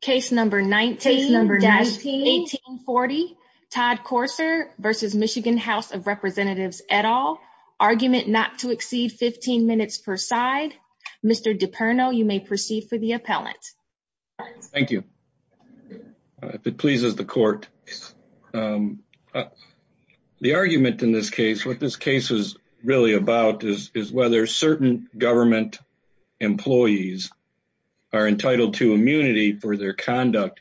Case No. 19-1840, Todd Courser v. MI House of Representatives et al. Argument not to exceed 15 minutes per side. Mr. DiPerno, you may proceed for the appellant. Thank you. If it pleases the court. The argument in this case, what this case is really about is whether certain government employees are entitled to immunity for their conduct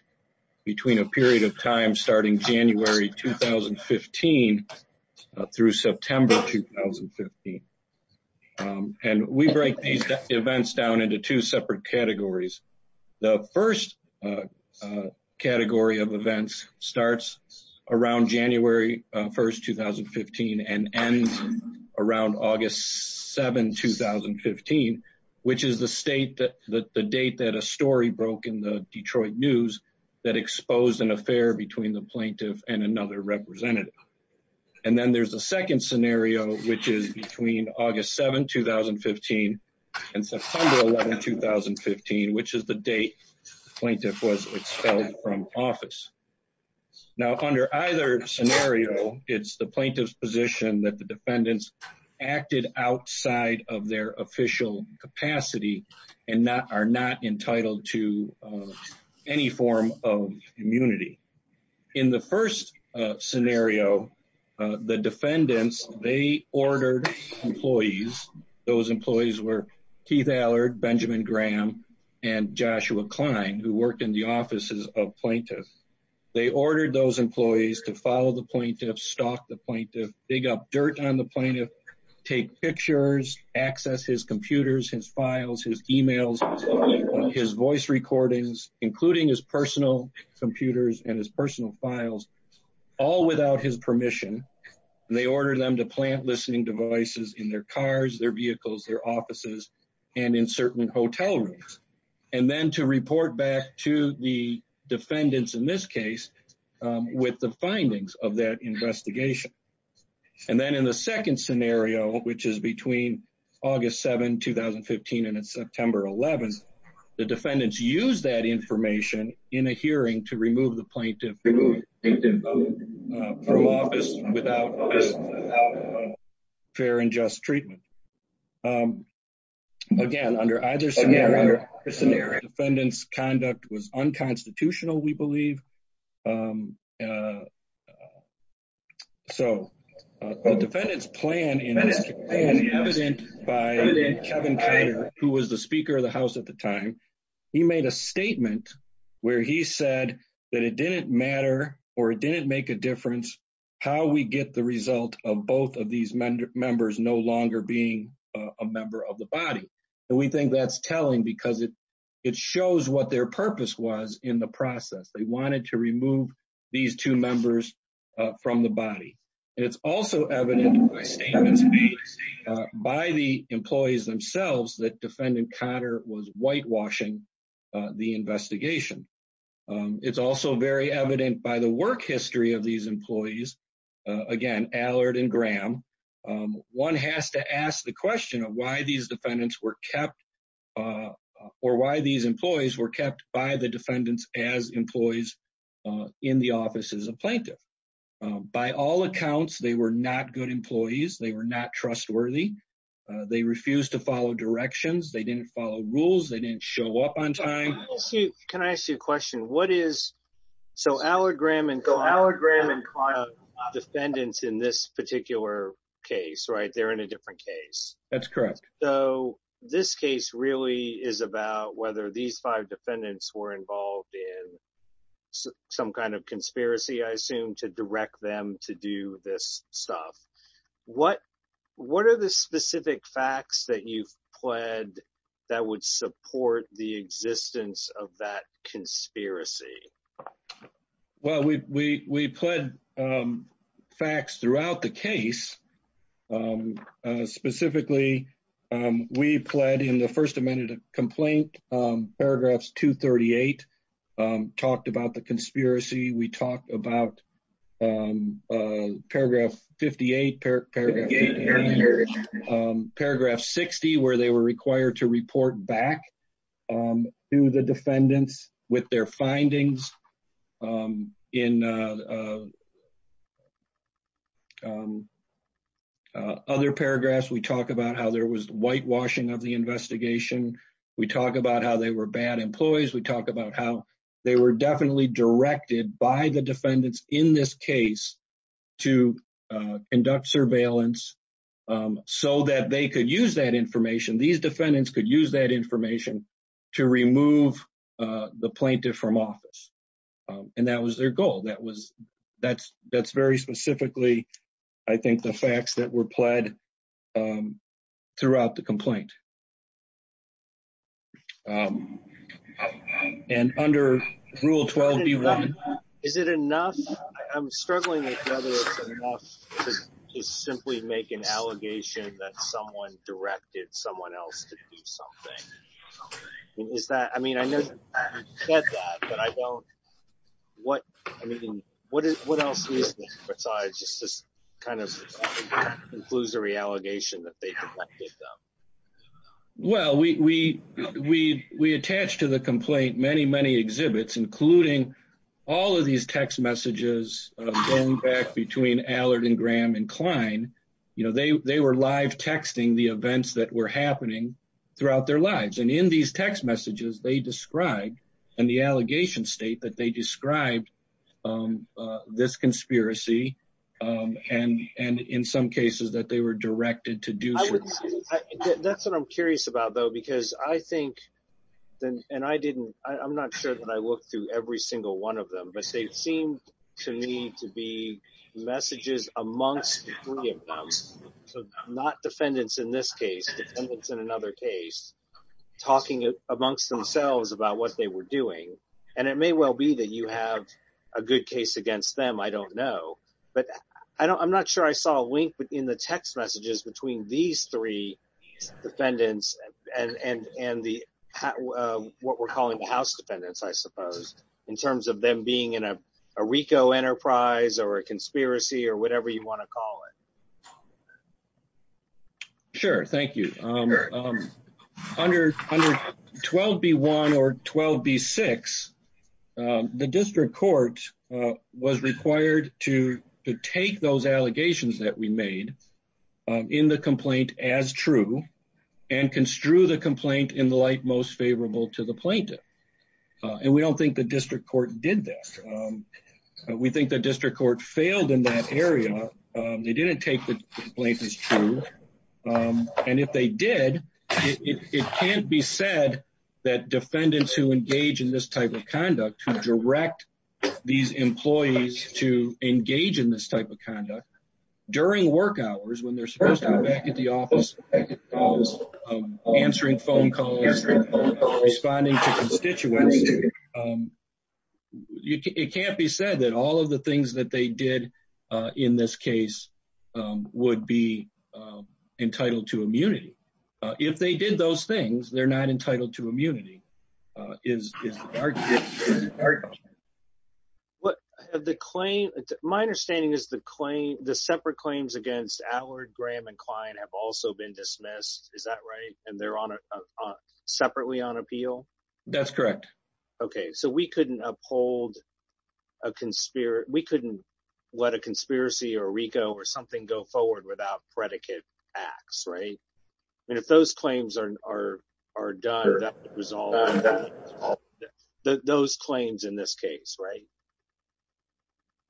between a period of time starting January 2015 through September 2015. And we break these events down into two separate categories. The first category of events starts around January 1, 2015 and ends around August 7, 2015, which is the state that the date that a story broke in the Detroit News that exposed an affair between the plaintiff and another representative. And then there's a second scenario, which is between August 7, 2015 and September 11, 2015, which is the date the plaintiff was expelled from office. Now, under either scenario, it's the plaintiff's position that the defendants acted outside of their official capacity and are not entitled to any form of immunity. In the first scenario, the defendants, they ordered employees. Those employees were Keith Allard, Benjamin Graham, and Joshua Klein, who worked in the offices of plaintiffs. They ordered those employees to follow the plaintiff, stalk the plaintiff, dig up dirt on the plaintiff, take pictures, access his computers, his files, his emails, his voice recordings, including his personal computers and his personal files, all without his permission. They ordered them to plant listening devices in their cars, their vehicles, their offices, and in certain hotel rooms, and then to report back to the defendants in this case with the findings of that investigation. And then in the second scenario, which is between August 7, 2015 and September 11, the defendants used that information in a hearing to remove the plaintiff from office without fair and just treatment. Again, under either scenario, the defendant's conduct was unconstitutional, we believe. So, the defendant's plan in this case, evident by Kevin Trader, who was the Speaker of the House at the time, he made a statement where he said that it didn't matter, or it didn't make a difference, how we get the result of both of these members no longer being a member of the body. And we think that's telling, because it shows what their purpose was in the process. They wanted to remove these two members from the body. And it's also evident by the employees themselves that Defendant Conner was whitewashing the investigation. It's also very evident by the work history of these employees, again, Allard and Graham. One has to ask the question of why these defendants were kept, or why these employees were kept by the defendants as employees in the office as a plaintiff. By all accounts, they were not good employees. They were not trustworthy. They refused to follow directions. They didn't follow rules. They didn't show up on time. Can I ask you a question? So, Allard, Graham, and Conner are defendants in this particular case, right? They're in a different case. That's correct. So, this case really is about whether these five defendants were involved in some kind of conspiracy, I assume, to direct them to do this stuff. What are the specific facts that you've pled that would support the existence of that case? Specifically, we pled in the First Amendment complaint, Paragraphs 238, talked about the conspiracy. We talked about Paragraph 58, Paragraph 60, where they were other paragraphs. We talked about how there was whitewashing of the investigation. We talked about how they were bad employees. We talked about how they were definitely directed by the defendants in this case to conduct surveillance so that they could use that information. These defendants could use that information to remove the plaintiff from office. And that was their goal. That's very specifically, I think, the facts that were pled throughout the complaint. And under Rule 12B1... Is it enough? I'm struggling with whether it's enough to simply make an allegation that someone directed someone else to do something. Is that... I mean, I know you said that, but I don't... What else is there besides just this kind of conclusory allegation that they directed them? Well, we attached to the complaint many, many exhibits, including all of these text messages of going back between Allard and Graham and Klein. They were live texting the events that were happening throughout their lives. And in these text messages, they described in the allegation state that they described this conspiracy. And in some cases that they were directed to do... That's what I'm curious about, though, because I think... And I didn't... I'm not sure that I looked through every single one of them, but they seemed to me to be messages amongst the three of them. So, not defendants in this case, defendants in another case, talking amongst themselves about what they were doing. And it may well be that you have a good case against them. I don't know. But I'm not sure I saw a link in the text messages between these three defendants and the... What we're calling the RICO enterprise or a conspiracy or whatever you want to call it. Sure. Thank you. Under 12B1 or 12B6, the district court was required to take those allegations that we made in the complaint as true and construe the complaint in the light most favorable to the plaintiff. And we don't think the district court did this. We think the district court failed in that area. They didn't take the complaint as true. And if they did, it can't be said that defendants who engage in this type of conduct, who direct these employees to engage in this type of conduct during work hours when they're supposed to be at the office, answering phone calls, responding to constituents. It can't be said that all of the things that they did in this case would be entitled to immunity. If they did those things, they're not entitled to immunity. Is the argument... My understanding is the separate claims against Allard, Graham, and Klein have also been dismissed. Is that right? And they're separately on appeal? That's correct. Okay. So we couldn't let a conspiracy or RICO or something go forward without predicate acts, right? And if those claims are done, that would resolve those claims in this case, right?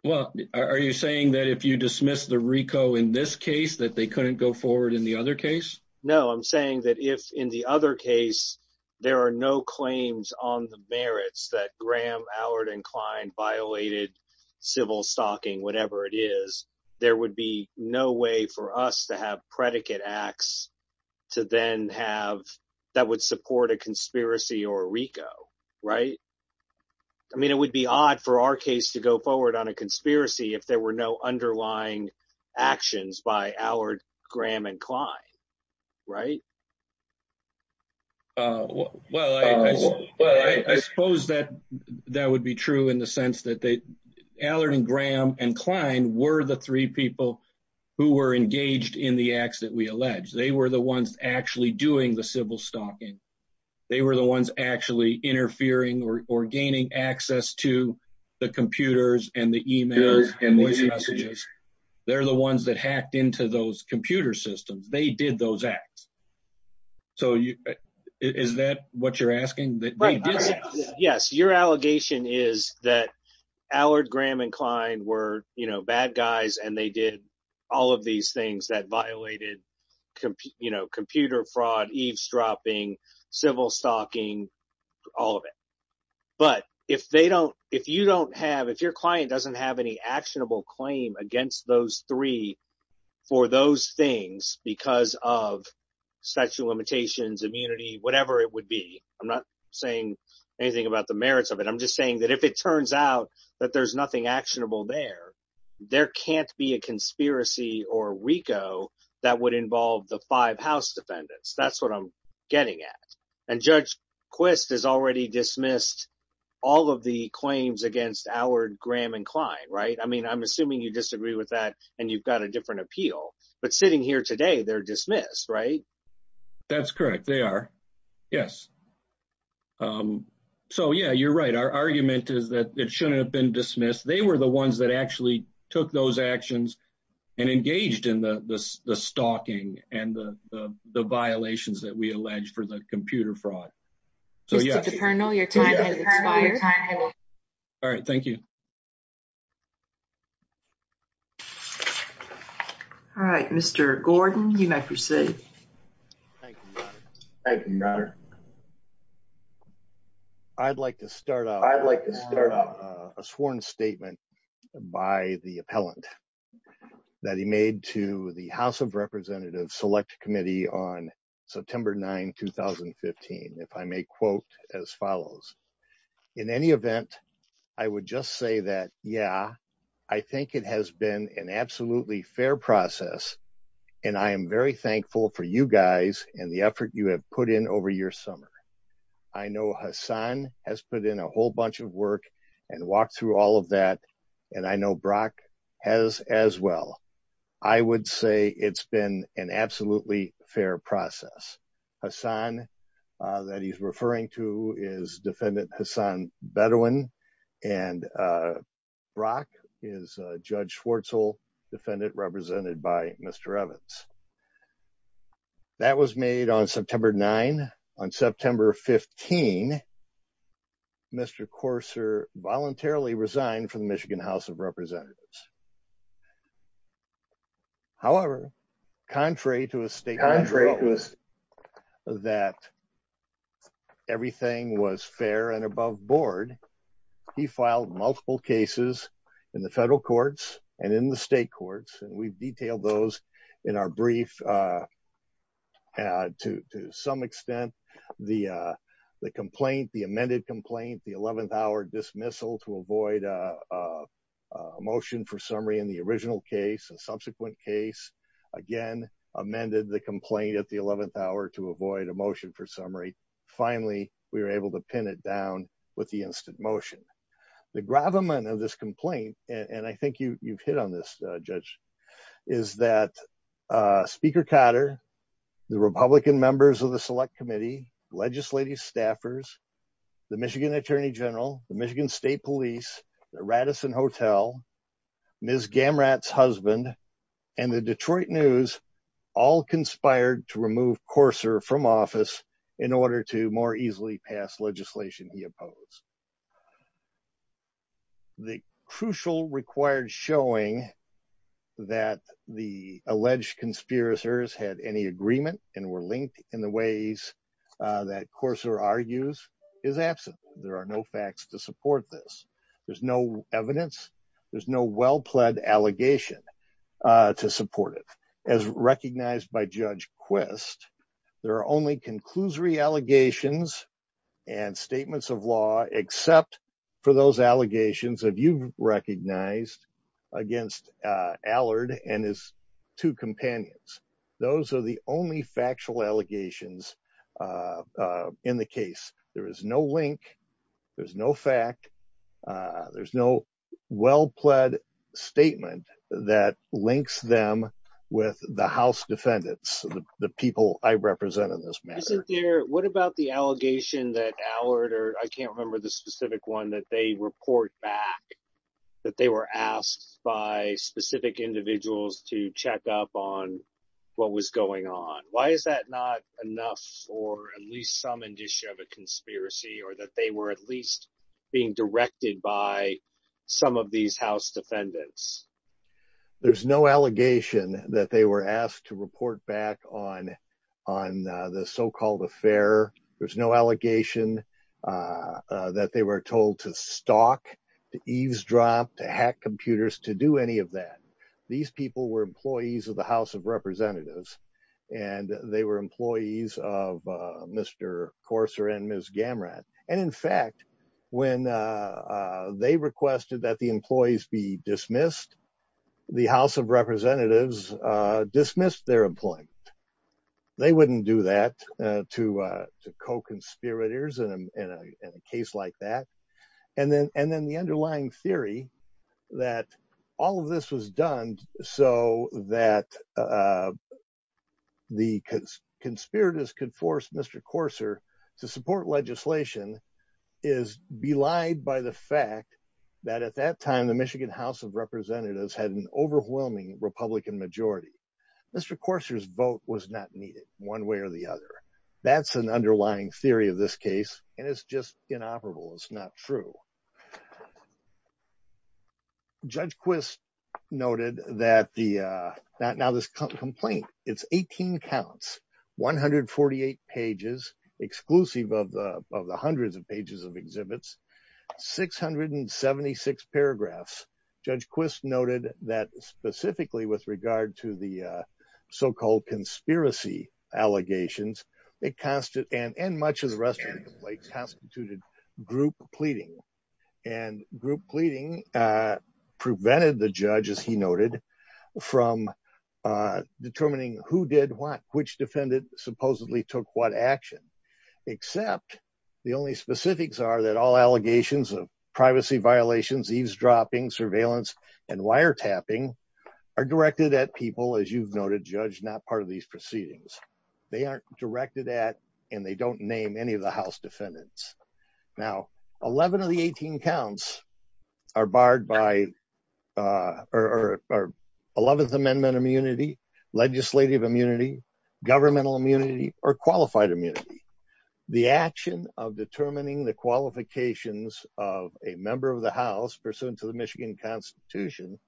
Well, are you saying that if you dismiss the RICO in this case, that they couldn't go forward in the other case? No, I'm saying that if in the other case, there are no claims on the merits that Graham, Allard, and Klein violated civil stalking, whatever it is, there would be no way for us to have predicate acts that would support a conspiracy or RICO, right? I mean, it would be odd for our case to go forward on a conspiracy if there were no underlying actions by Allard, Graham, and Klein, right? Well, I suppose that that would be true in the sense that Allard, and Graham, and Klein were the three people who were engaged in the acts that we alleged. They were the ones actually doing the civil stalking. They were the ones actually interfering or gaining access to the computers and the emails and voice messages. They're the ones that hacked into those computer systems. They did those acts. So is that what you're asking? Right. Yes. Your allegation is that Allard, Graham, and Klein were bad guys, and they did all of these things that violated computer fraud, eavesdropping, civil stalking, all of it. But if your client doesn't have any actionable claim against those three for those things because of statute of limitations, immunity, whatever it would be, I'm not saying anything about the merits of it. I'm just saying that if it turns out that there's nothing actionable there, there can't be a conspiracy or RICO that would involve the five house defendants. That's what I'm getting at. And Judge Quist has already dismissed all of the claims against Allard, Graham, and Klein, right? I mean, I'm assuming you got a different appeal. But sitting here today, they're dismissed, right? That's correct. They are. Yes. So yeah, you're right. Our argument is that it shouldn't have been dismissed. They were the ones that actually took those actions and engaged in the stalking and the violations that we allege for the computer fraud. So yeah. All right. Thank you. All right, Mr. Gordon, you may proceed. I'd like to start off a sworn statement by the appellant that he made to the House of as follows. In any event, I would just say that, yeah, I think it has been an absolutely fair process. And I am very thankful for you guys and the effort you have put in over your summer. I know Hassan has put in a whole bunch of work and walked through all of that. And I know Brock has as well. I would say it's been an absolutely fair process. Hassan that he's referring to is defendant Hassan Bedouin. And Brock is Judge Schwartzel, defendant represented by Mr. Evans. That was made on September 9. On September 15, Mr. Courser voluntarily resigned from the Michigan House of Representatives. However, contrary to a statement that everything was fair and above board, he filed multiple cases in the federal courts and in the state courts. And we've detailed those in our brief. To some extent, the complaint, the amended complaint, the 11th hour dismissal to avoid a motion for summary in the original case and subsequent case, again, amended the complaint at the 11th hour to avoid a motion for summary. Finally, we were able to pin it down with the instant motion. The gravamen of this complaint, and I think you've hit on this, Judge, is that Speaker Cotter, the Republican members of the Select Committee, legislative staffers, the Michigan Attorney General, the Michigan State Police, the Radisson Hotel, Ms. Gamrat's husband, and the Detroit News all conspired to remove Courser from office in order to more easily pass legislation he opposed. The crucial required showing that the alleged conspiracists had any agreement and were linked in the ways that Courser argues is absent. There are no facts to support this. There's no evidence. There's no well-pledged allegation to support it. As recognized by Judge Quist, there are only conclusory allegations and statements of law except for those allegations that you've recognized against Allard and his two companions. Those are the only factual allegations in the case. There is no link. There's no fact. There's no well-pledged statement that links them with the House defendants, the people I represent in this matter. What about the allegation that Allard, or I can't remember the specific one, that they report back that they were asked by specific individuals to check up on what was going on? Why is that not enough for at least some indicia of a conspiracy or that they were at least being directed by some of these House defendants? There's no allegation that they were asked to report back on the so-called affair. There's no allegation that they were told to stalk, to eavesdrop, to hack computers, to do any of that. These people were employees of the House of Representatives and they were employees of the House of Representatives dismissed their employment. They wouldn't do that to co-conspirators in a case like that. The underlying theory that all of this was done so that the conspirators could force Mr. Courser to support legislation is belied by the fact that at that time, the Michigan House of Representatives had an overwhelming Republican majority. Mr. Courser's vote was not needed one way or the other. That's an underlying theory of this case and it's just inoperable. It's not true. Judge Quist noted that now this complaint, it's 18 counts, 148 pages exclusive of the hundreds of pages of exhibits, 676 paragraphs. Judge Quist noted that specifically with regard to the so-called conspiracy allegations, and much of the rest of the complaints constituted group pleading. Group pleading prevented the judge, as he noted, from determining who did what, which defendant supposedly took what action. Except the only specifics are that all allegations of privacy violations, eavesdropping, surveillance, and wiretapping are directed at people, as you've noted, judge not part of these proceedings. They aren't directed at and they don't name any of the House defendants. Now, 11 of the 18 counts are barred by or are 11th Amendment immunity, legislative immunity, governmental immunity, or qualified immunity. The action of determining the qualifications of a member of the House pursuant to the Michigan Constitution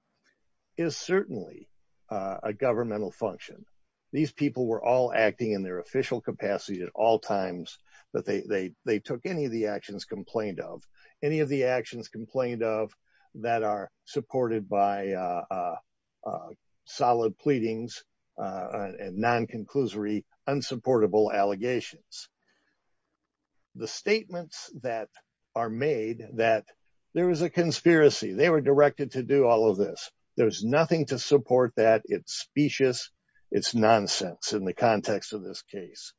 is certainly a governmental function. These people were all acting in their official capacity at all times that they took any of the actions complained of, any of the actions complained of that are supported by solid pleadings and non-conclusory unsupportable allegations. The statements that are made that there was a conspiracy, they were directed to do all of this, there's nothing to support that, it's specious, it's nonsense in the context of this case.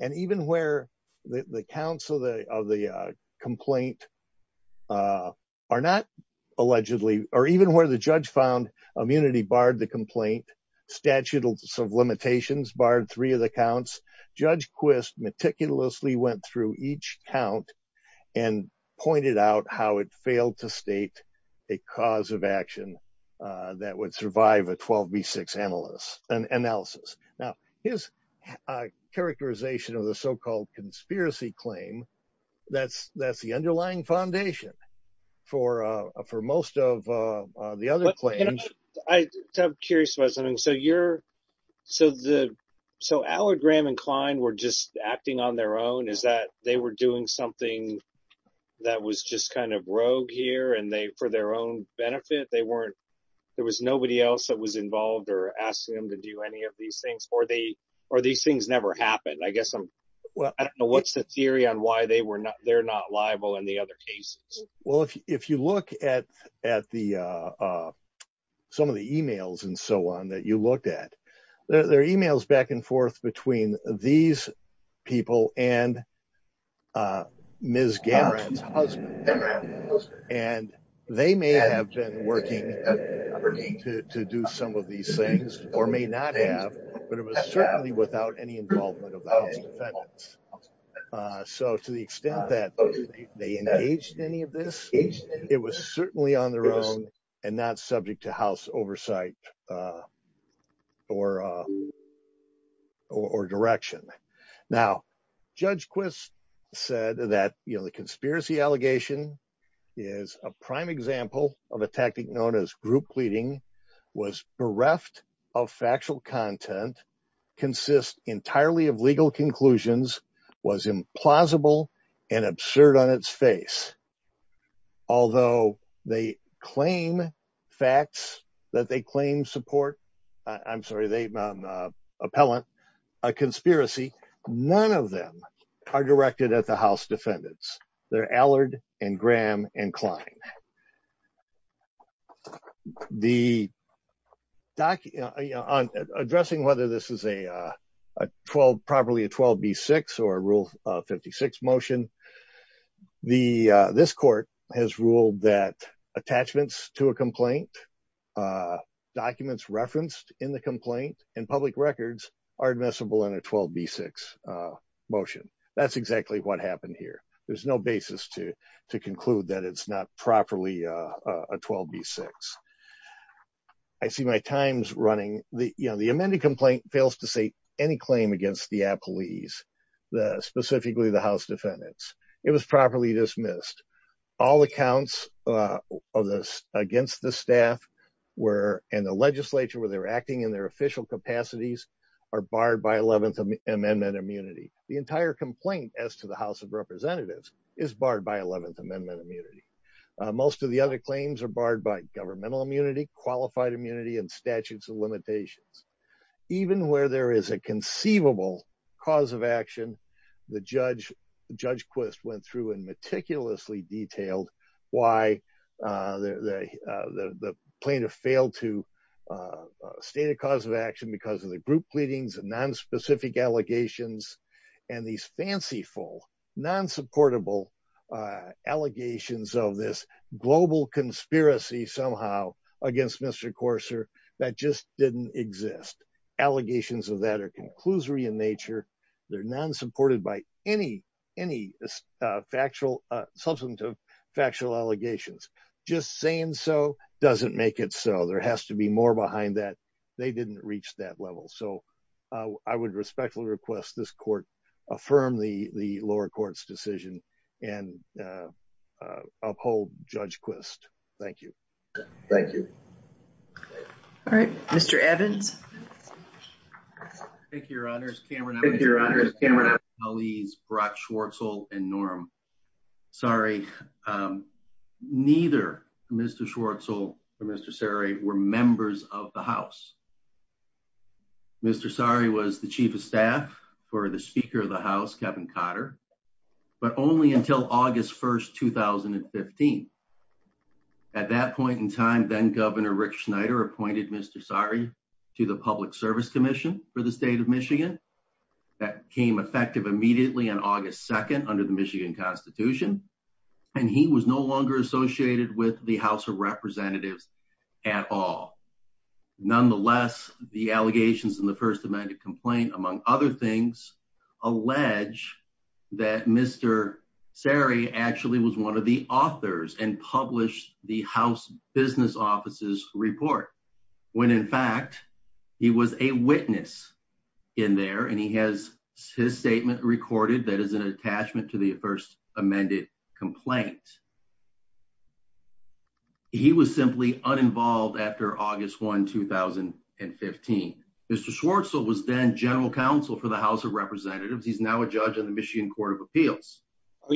And even where the counts of the complaint are not allegedly, or even where the judge found immunity barred the complaint, statute of limitations barred three of the counts, Judge Quist meticulously went through each count and pointed out how it failed to state a cause of action that would survive a 12B6 analysis. Now, his characterization of the so-called conspiracy claim, that's the underlying foundation for most of the other claims. I'm curious about something. So, Howard Graham and Klein were just that was just kind of rogue here and they, for their own benefit, there was nobody else that was involved or asking them to do any of these things, or these things never happened. I guess, I don't know what's the theory on why they're not liable in the other cases. Well, if you look at some of the emails and so on that you looked at, there are emails back and forth between these people and Ms. Gamran's husband. And they may have been working to do some of these things, or may not have, but it was certainly without any involvement of the House defendants. So, to the extent that they engaged in any of this, it was certainly on their own and not subject to House oversight or direction. Now, Judge Quist said that the conspiracy allegation is a prime example of a tactic known as group pleading, was bereft of factual content, consists entirely of legal conclusions, was implausible and absurd on its face. Although they claim facts that they claim support, I'm sorry, they appellant a conspiracy, none of them are directed at the House defendants. They're Allard and Graham and Klein. So, on addressing whether this is properly a 12B6 or Rule 56 motion, this court has ruled that attachments to a complaint, documents referenced in the complaint and public records are admissible in a 12B6 motion. That's exactly what happened here. There's no basis to conclude that it's not properly a 12B6. I see my times running. The amended complaint fails to say any claim against the appellees, specifically the House defendants. It was properly dismissed. All accounts against the staff and the legislature where they were acting in their official capacities are barred by Eleventh Amendment immunity. The entire complaint as to the House of Representatives is barred by Eleventh Amendment immunity. Most of the other claims are barred by governmental immunity, qualified immunity and statutes of limitations. Even where there is a conceivable cause of action, Judge Quist went through and meticulously detailed why the plaintiff failed to state a cause of action because of the group pleadings and non-specific allegations and these fanciful, non-supportable allegations of this global conspiracy somehow against Mr. Courser that just didn't exist. Allegations of that are conclusory in nature. They're non-supported by any substantive factual allegations. Just saying so doesn't make it so. There has to be more behind that. They didn't reach that level. I would respectfully request this court affirm the lower court's decision and uphold Judge Quist. Thank you. Thank you. All right. Mr. Evans. Thank you, Your Honor. I'm with the appellees, Barack Schwartzel and Norm. Sorry, neither Mr. Schwartzel or Mr. Sari were members of the House. Mr. Sari was the Chief of Staff for the Speaker of the House, Kevin Cotter, but only until August 1st, 2015. At that point in time, then-Governor Rick Schneider appointed Mr. Sari to the Public Service Commission for the State of Michigan. That came effective immediately on August 2nd under the Michigan Constitution, and he was no longer associated with the House of Representatives at all. Nonetheless, the allegations in the First Amendment complaint, among other things, allege that Mr. Sari actually was one of the authors and published the House Business Office's report, when, in fact, he was a witness in there, and he has his statement recorded that is an attachment to the First Amendment complaint. He was simply uninvolved after August 1st, 2015. Mr. Schwartzel was then General Counsel for the House of Representatives. He's now a judge in the Michigan Court of Appeals. Are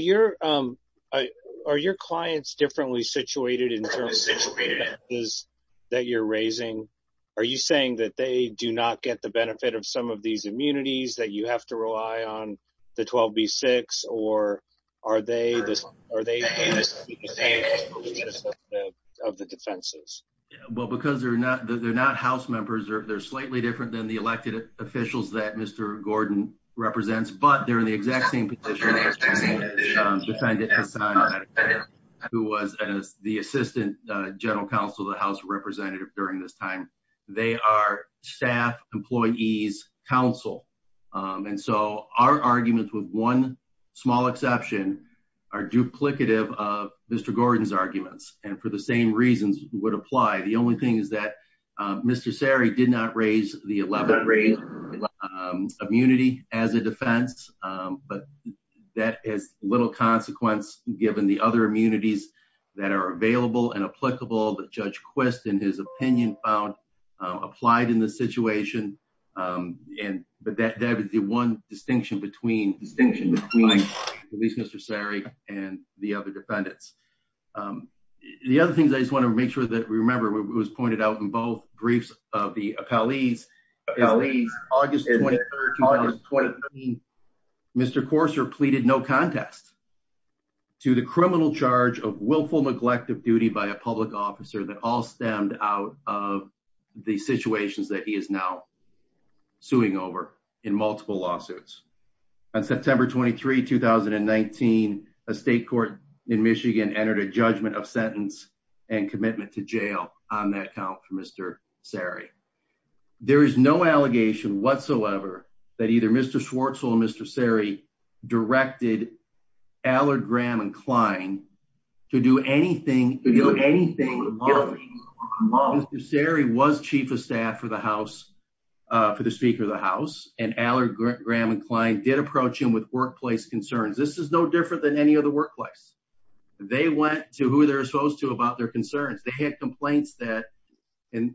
your clients differently situated in terms of the defenses that you're raising? Are you saying that they do not get the benefit of some of these immunities, that you have to rely on the 12B-6, or are they the defense of the defenses? Well, because they're not House members, they're slightly different than the elected officials that Mr. Gordon represents, but they're in the exact same position as who was the Assistant General Counsel of the House of Representatives during this time. They are staff, employees, counsel, and so our arguments, with one small exception, are duplicative of Mr. Gordon's arguments, and for the same reasons would apply. The only thing is that we have immunity as a defense, but that has little consequence given the other immunities that are available and applicable that Judge Quist, in his opinion, found applied in the situation, but that would be one distinction between police Mr. Sarek and the other defendants. The other things I just want to make sure that we remember, it was pointed out in both briefs of the appellees. August 23rd, 2013, Mr. Courser pleaded no contest to the criminal charge of willful neglect of duty by a public officer that all stemmed out of the situations that he is now suing over in multiple lawsuits. On September 23rd, 2019, a state court in Michigan entered a judgment of sentence and commitment to jail on that count for Mr. Sarek. There is no allegation whatsoever that either Mr. Schwartzel or Mr. Sarek directed Allard, Graham, and Klein to do anything Mr. Sarek was Chief of Staff for the House, for the Speaker of the House, and Allard, Graham, and Klein did approach him with workplace concerns. This is no different than any other to who they're supposed to about their concerns. They had complaints that, and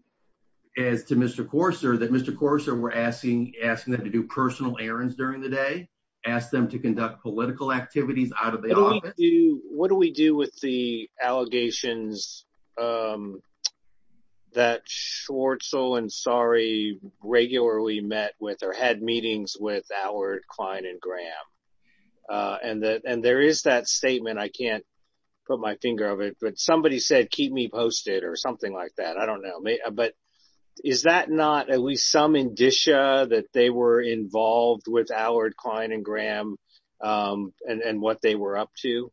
as to Mr. Courser, that Mr. Courser were asking them to do personal errands during the day, ask them to conduct political activities out of the office. What do we do with the allegations that Schwartzel and Sarek regularly met with or had meetings with Allard, Klein, and Graham? And there is that statement. I can't put my finger on it, but somebody said, keep me posted or something like that. I don't know. But is that not at least some indicia that they were involved with Allard, Klein, and Graham and what they were up to?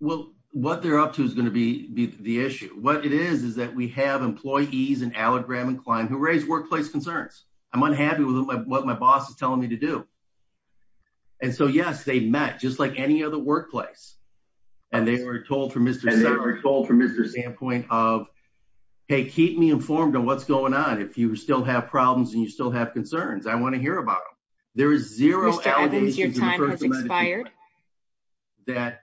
Well, what they're up to is going to be the issue. What it is, is that we have employees in Allard, Graham, and Klein who raise workplace concerns. I'm unhappy with what my boss is telling me to do. And so, yes, they met, just like any other workplace. And they were told from Mr. Sam's point of, hey, keep me informed on what's going on. If you still have problems and you still have concerns, I want to hear about them. There is zero allegation that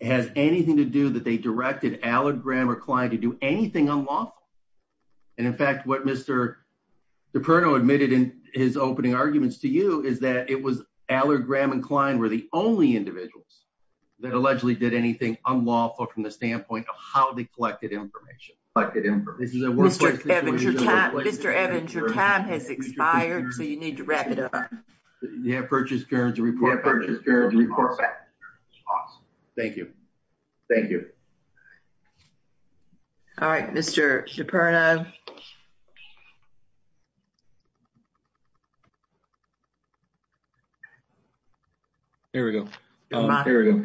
has anything to do that they directed Allard, Graham, or Klein to do anything unlawful. And in fact, what Mr. Cipriano admitted in his opening arguments to you is that it was Allard, Graham, and Klein were the only individuals that allegedly did anything unlawful from the standpoint of how they collected information. Mr. Evans, your time has expired, so you need to wrap it up. You have purchased current to report back. Thank you. Thank you. All right, Mr. Cipriano. Here we go. We know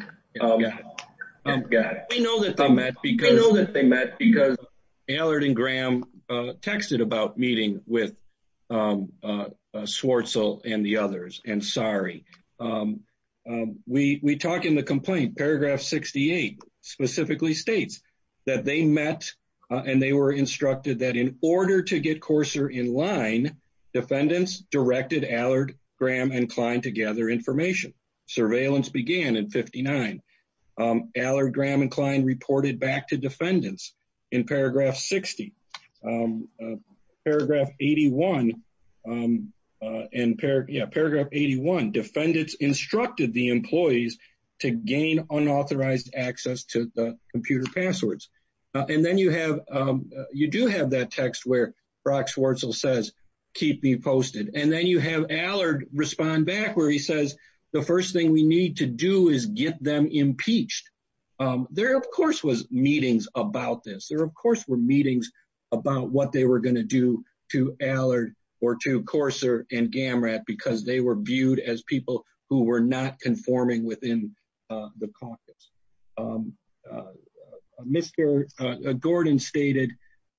that they met because Allard and Graham texted about meeting with that they met and they were instructed that in order to get Courser in line, defendants directed Allard, Graham, and Klein to gather information. Surveillance began in 59. Allard, Graham, and Klein reported back to defendants in paragraph 60. Paragraph 81, in paragraph 81, defendants instructed the employees to gain unauthorized access to the computer passwords. And then you have, you do have that text where Brock Schwartzel says, keep me posted. And then you have Allard respond back where he says, the first thing we need to do is get them impeached. There of course was meetings about this. There of course were meetings about what they were going to do to Allard or to Courser and Gamrat because they were viewed as people who were not conforming within the caucus. Mr. Gordon stated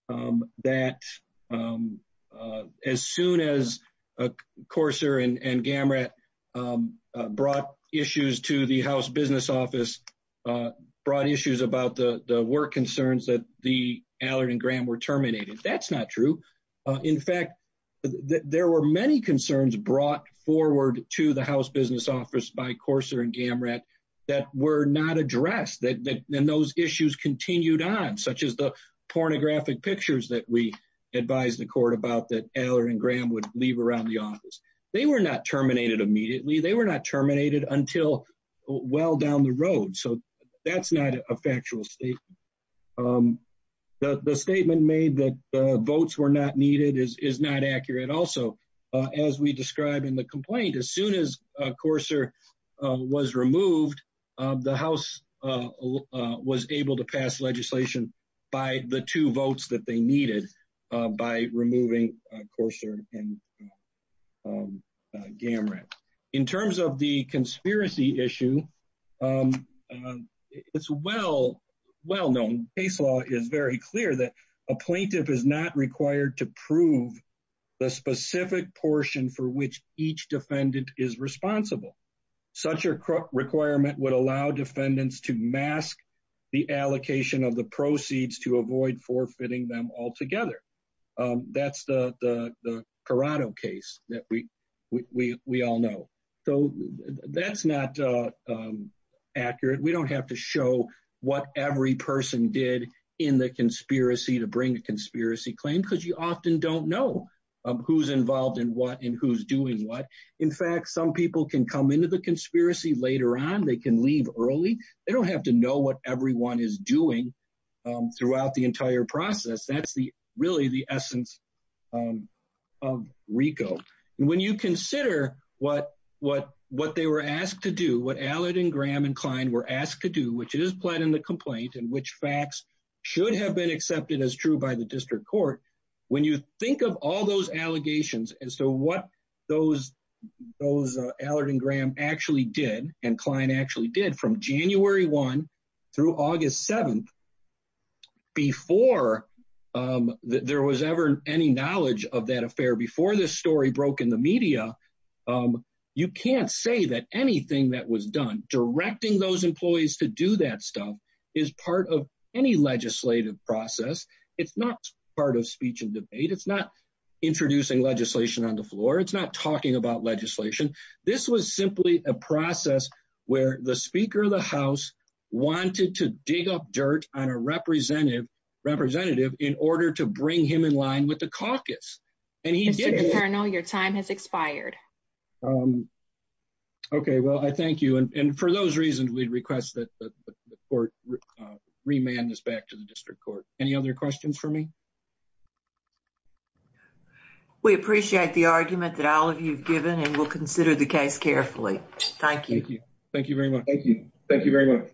that as soon as Courser and Gamrat brought issues to the house business office, brought issues about the work concerns that the were terminated. That's not true. In fact, there were many concerns brought forward to the house business office by Courser and Gamrat that were not addressed. Then those issues continued on, such as the pornographic pictures that we advised the court about that Allard and Graham would leave around the office. They were not terminated immediately. They were not terminated until well down the road. So that's not a factual statement. The statement made that votes were not needed is not accurate. Also, as we described in the complaint, as soon as Courser was removed, the house was able to pass legislation by the two votes that they needed by removing Courser and Graham. It's well known. The case law is very clear that a plaintiff is not required to prove the specific portion for which each defendant is responsible. Such a requirement would allow defendants to mask the allocation of the proceeds to avoid forfeiting them altogether. That's the accurate. We don't have to show what every person did in the conspiracy to bring a conspiracy claim because you often don't know who's involved in what and who's doing what. In fact, some people can come into the conspiracy later on. They can leave early. They don't have to know what everyone is doing throughout the entire process. That's really the essence of RICO. When you consider what Allard and Graham and Klein were asked to do, which is planned in the complaint and which facts should have been accepted as true by the district court, when you think of all those allegations as to what those Allard and Graham actually did and Klein actually did from January 1 through August 7, before there was ever any knowledge of that affair, before this story broke the media, you can't say that anything that was done directing those employees to do that stuff is part of any legislative process. It's not part of speech and debate. It's not introducing legislation on the floor. It's not talking about legislation. This was simply a process where the Speaker of the House wanted to dig up dirt on a representative in order to bring him in line with the caucus. And he did. Mr. Colonel, your time has expired. Okay. Well, I thank you. And for those reasons, we'd request that the court remand this back to the district court. Any other questions for me? We appreciate the argument that all of you have given and we'll consider the case carefully. Thank you. Thank you very much. Thank you. Thank you very much.